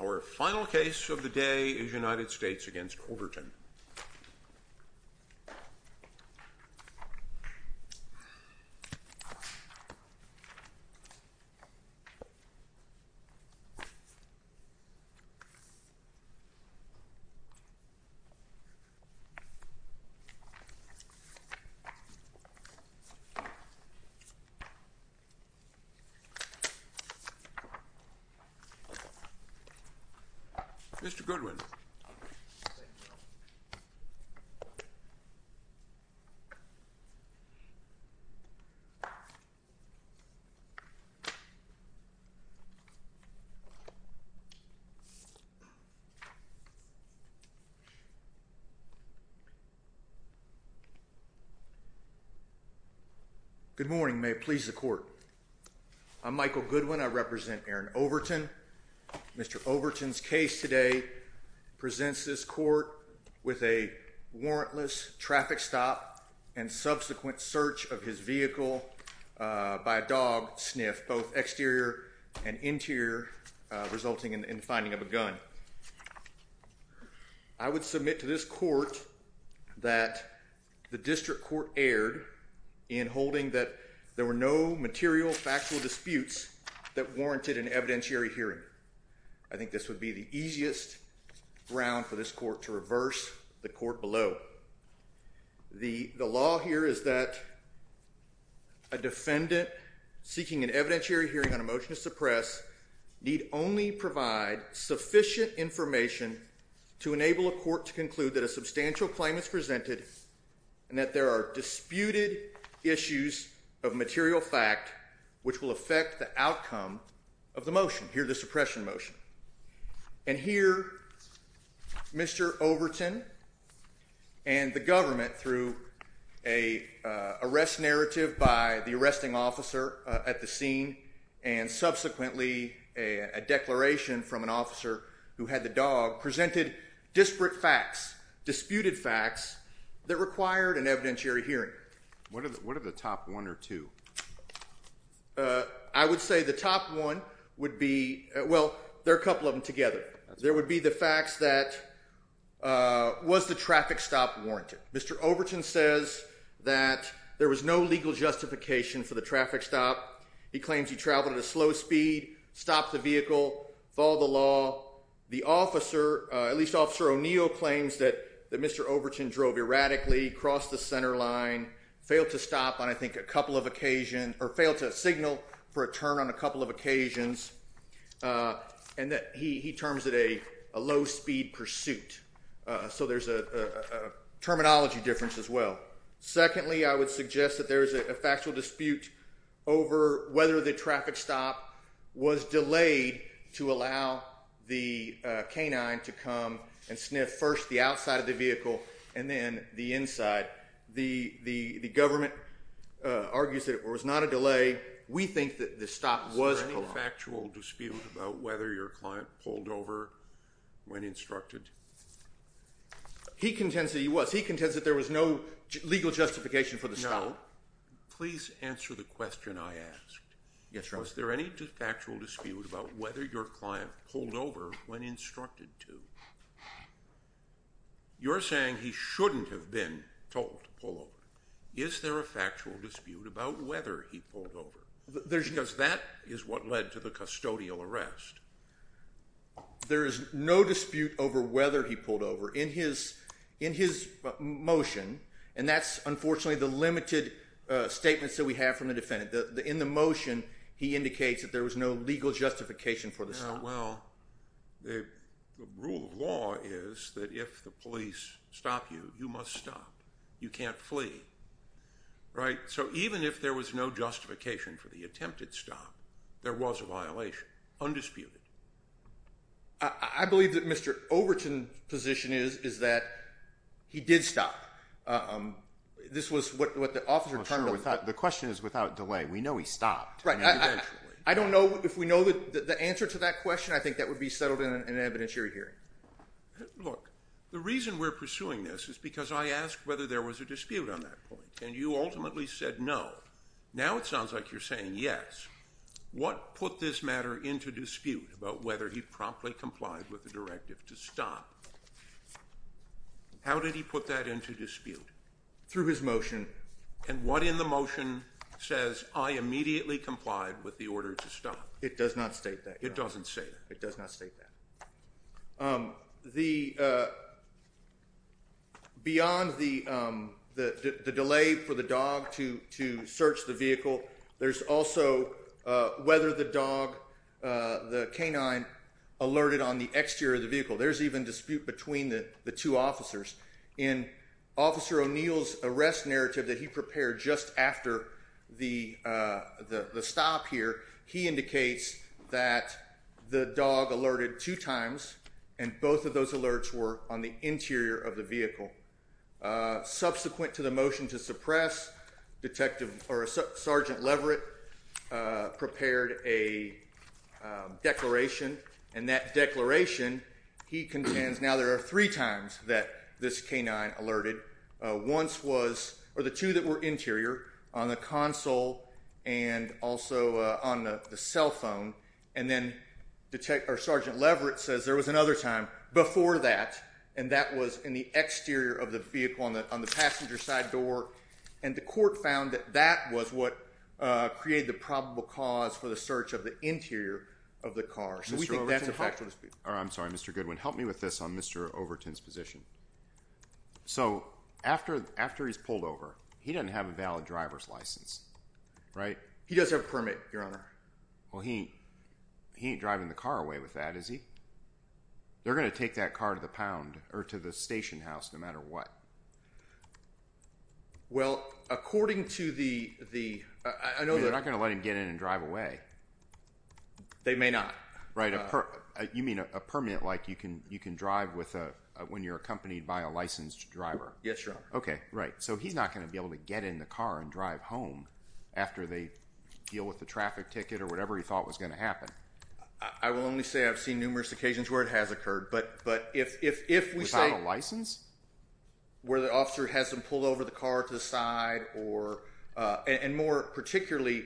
Our final case of the day is United States v. Overton. Mr. Goodwin. Good morning. May it please the court. I'm Michael Goodwin. I represent Aaron Overton. Mr. Overton's case today presents this court with a warrantless traffic stop and subsequent search of his vehicle by a dog sniff, both exterior and interior, resulting in finding of a gun. I would submit to this court that the district court erred in holding that there were no material factual disputes that warranted an evidentiary hearing. I think this would be the easiest ground for this court to reverse the court below. The law here is that a defendant seeking an evidentiary hearing on a motion to suppress need only provide sufficient information to enable a court to conclude that a substantial claim is presented and that there are disputed issues of material fact which will affect the outcome of the motion, here the suppression motion. And here Mr. Overton and the government through an arrest narrative by the arresting officer at the scene and subsequently a declaration from an officer who had the dog presented disparate facts, disputed facts that required an evidentiary hearing. What are the top one or two? I would say the top one would be, well, there are a couple of them together. There would be the facts that was the traffic stop warranted. Mr. Overton says that there was no legal justification for the traffic stop. He claims he traveled at a slow speed, stopped the vehicle, followed the law. The officer, at least Officer O'Neill claims that Mr. Overton drove erratically, crossed the center line, failed to stop on I think a couple of occasion, or failed to signal for a turn on a couple of occasions. And that he terms it a low speed pursuit. So there's a terminology difference as well. Secondly, I would suggest that there is a factual dispute over whether the traffic stop was delayed to allow the canine to come and sniff first the outside of the vehicle and then the inside. The government argues that it was not a delay. We think that the stop was prolonged. Was there any factual dispute about whether your client pulled over when instructed? He contends that he was. He contends that there was no legal justification for the stop. No. Please answer the question I asked. Yes, Your Honor. Was there any factual dispute about whether your client pulled over when instructed to? You're saying he shouldn't have been told to pull over. Is there a factual dispute about whether he pulled over? Because that is what led to the custodial arrest. There is no dispute over whether he pulled over. In his motion, and that's unfortunately the limited statements that we have from the defendant, in the motion he indicates that there was no legal justification for the stop. Well, the rule of law is that if the police stop you, you must stop. You can't flee. Right? So even if there was no justification for the attempted stop, there was a violation. Undisputed. I believe that Mr. Overton's position is that he did stop. This was what the officer turned to. Sure. The question is without delay. We know he stopped. Right. I don't know if we know the answer to that question. I think that would be settled in an evidentiary hearing. Look, the reason we're pursuing this is because I asked whether there was a dispute on that point, and you ultimately said no. Now it sounds like you're saying yes. What put this matter into dispute about whether he promptly complied with the directive to stop? How did he put that into dispute? Through his motion. And what in the motion says I immediately complied with the order to stop? It does not state that. It doesn't say that. It does not state that. Beyond the delay for the dog to search the vehicle, there's also whether the dog, the canine, alerted on the exterior of the vehicle. There's even dispute between the two officers. In Officer O'Neill's arrest narrative that he prepared just after the stop here, he indicates that the dog alerted two times, and both of those alerts were on the interior of the vehicle. Subsequent to the motion to suppress, Sergeant Leverett prepared a declaration, and that declaration, he contends, now there are three times that this canine alerted. Or the two that were interior, on the console and also on the cell phone. And then Sergeant Leverett says there was another time before that, and that was in the exterior of the vehicle on the passenger side door. And the court found that that was what created the probable cause for the search of the interior of the car. So we think that's a factual dispute. I'm sorry, Mr. Goodwin. Help me with this on Mr. Overton's position. So after he's pulled over, he doesn't have a valid driver's license, right? He does have a permit, Your Honor. Well, he ain't driving the car away with that, is he? They're going to take that car to the pound, or to the station house, no matter what. Well, according to the… They're not going to let him get in and drive away. They may not. Right. You mean a permit like you can drive when you're accompanied by a licensed driver? Yes, Your Honor. Okay, right. So he's not going to be able to get in the car and drive home after they deal with the traffic ticket or whatever he thought was going to happen? I will only say I've seen numerous occasions where it has occurred, but if we say… Without a license? Where the officer has them pull over the car to the side or… And more particularly,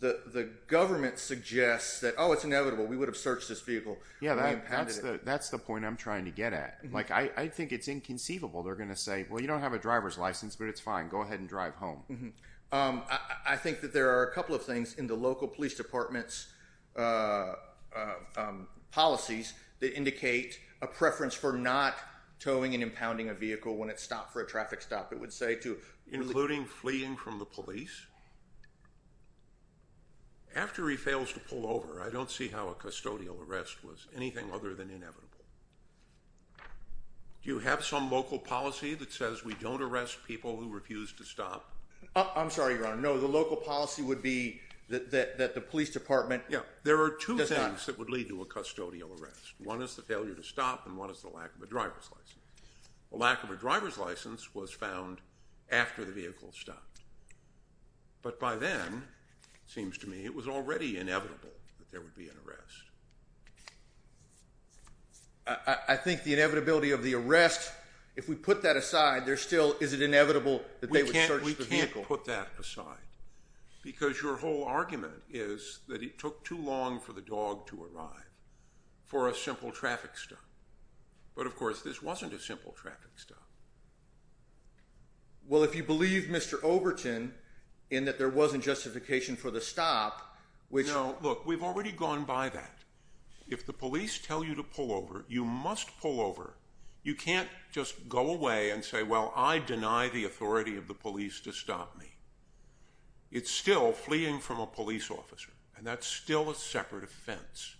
the government suggests that, oh, it's inevitable. We would have searched this vehicle. Yeah, that's the point I'm trying to get at. I think it's inconceivable they're going to say, well, you don't have a driver's license, but it's fine. Go ahead and drive home. I think that there are a couple of things in the local police department's policies that indicate a preference for not towing and impounding a vehicle when it's stopped for a traffic stop. It would say to… Including fleeing from the police? After he fails to pull over, I don't see how a custodial arrest was anything other than inevitable. Do you have some local policy that says we don't arrest people who refuse to stop? I'm sorry, Your Honor. No, the local policy would be that the police department does not… Yeah, there are two things that would lead to a custodial arrest. One is the failure to stop, and one is the lack of a driver's license. The lack of a driver's license was found after the vehicle stopped, but by then, it seems to me, it was already inevitable that there would be an arrest. I think the inevitability of the arrest, if we put that aside, there still is an inevitable that they would search the vehicle. We can't put that aside because your whole argument is that it took too long for the dog to arrive for a simple traffic stop. But, of course, this wasn't a simple traffic stop. Well, if you believe Mr. Overton in that there wasn't justification for the stop, which… No, look, we've already gone by that. If the police tell you to pull over, you must pull over. You can't just go away and say, well, I deny the authority of the police to stop me. It's still fleeing from a police officer, and that's still a separate offense.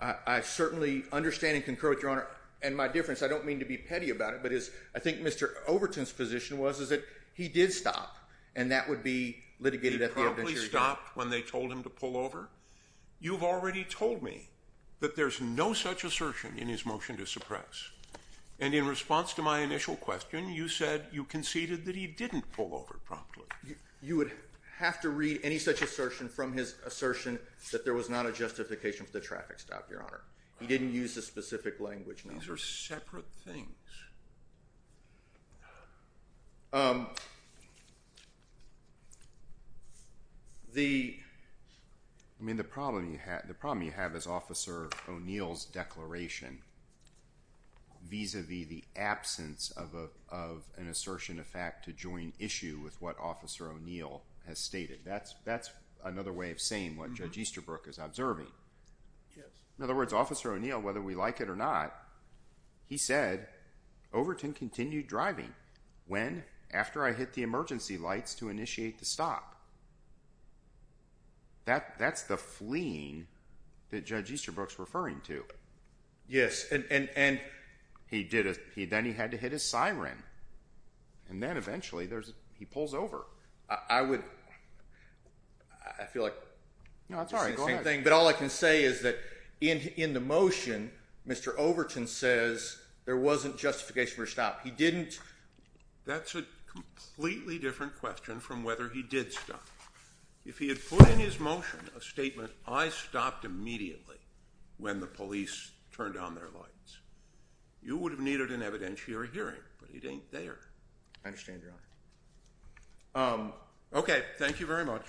I certainly understand and concur with Your Honor. And my difference, I don't mean to be petty about it, but I think Mr. Overton's position was that he did stop, and that would be litigated at the eventuality. He probably stopped when they told him to pull over. You've already told me that there's no such assertion in his motion to suppress. And in response to my initial question, you said you conceded that he didn't pull over promptly. You would have to read any such assertion from his assertion that there was not a justification for the traffic stop, Your Honor. He didn't use a specific language number. These are separate things. The problem you have is Officer O'Neill's declaration vis-a-vis the absence of an assertion of fact to join issue with what Officer O'Neill has stated. That's another way of saying what Judge Easterbrook is observing. In other words, Officer O'Neill, whether we like it or not, he said, Overton continued driving when, after I hit the emergency lights to initiate the stop. That's the fleeing that Judge Easterbrook's referring to. Then he had to hit his siren. And then eventually, he pulls over. I would—I feel like— No, that's all right. Go ahead. But all I can say is that in the motion, Mr. Overton says there wasn't justification for the stop. He didn't— That's a completely different question from whether he did stop. If he had put in his motion a statement, I stopped immediately when the police turned on their lights, you would have needed an evidentiary hearing. But it ain't there. I understand, Your Honor. Okay. Thank you very much.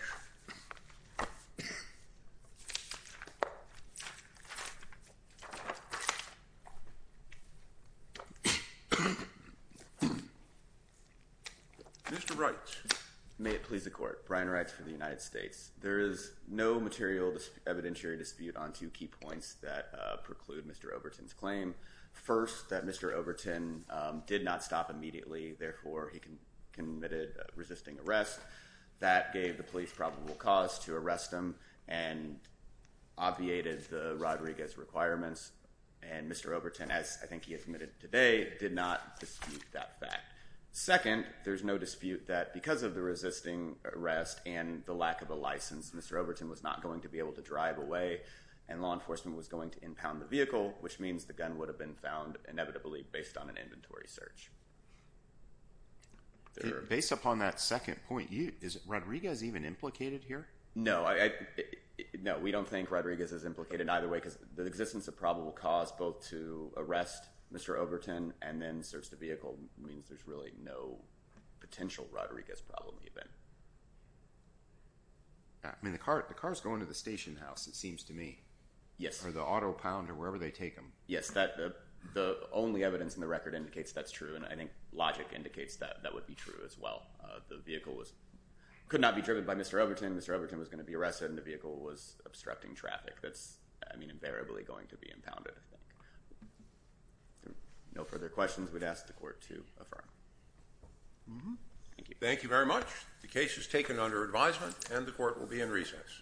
Mr. Wright. May it please the Court. Brian Wright for the United States. There is no material evidentiary dispute on two key points that preclude Mr. Overton's claim. First, that Mr. Overton did not stop immediately. Therefore, he committed resisting arrest. That gave the police probable cause to arrest him and obviated the Rodriguez requirements. And Mr. Overton, as I think he admitted today, did not dispute that fact. Second, there's no dispute that because of the resisting arrest and the lack of a license, Mr. Overton was not going to be able to drive away. And law enforcement was going to impound the vehicle, which means the gun would have been found inevitably based on an inventory search. Based upon that second point, is Rodriguez even implicated here? No. No, we don't think Rodriguez is implicated either way because the existence of probable cause both to arrest Mr. Overton and then search the vehicle means there's really no potential Rodriguez problem even. I mean, the cars go into the station house, it seems to me. Yes. Or the auto pounder, wherever they take them. Yes, the only evidence in the record indicates that's true, and I think logic indicates that that would be true as well. The vehicle could not be driven by Mr. Overton. Mr. Overton was going to be arrested, and the vehicle was obstructing traffic. That's, I mean, invariably going to be impounded, I think. No further questions, we'd ask the Court to affirm. Thank you. Thank you very much. The case is taken under advisement, and the Court will be in recess.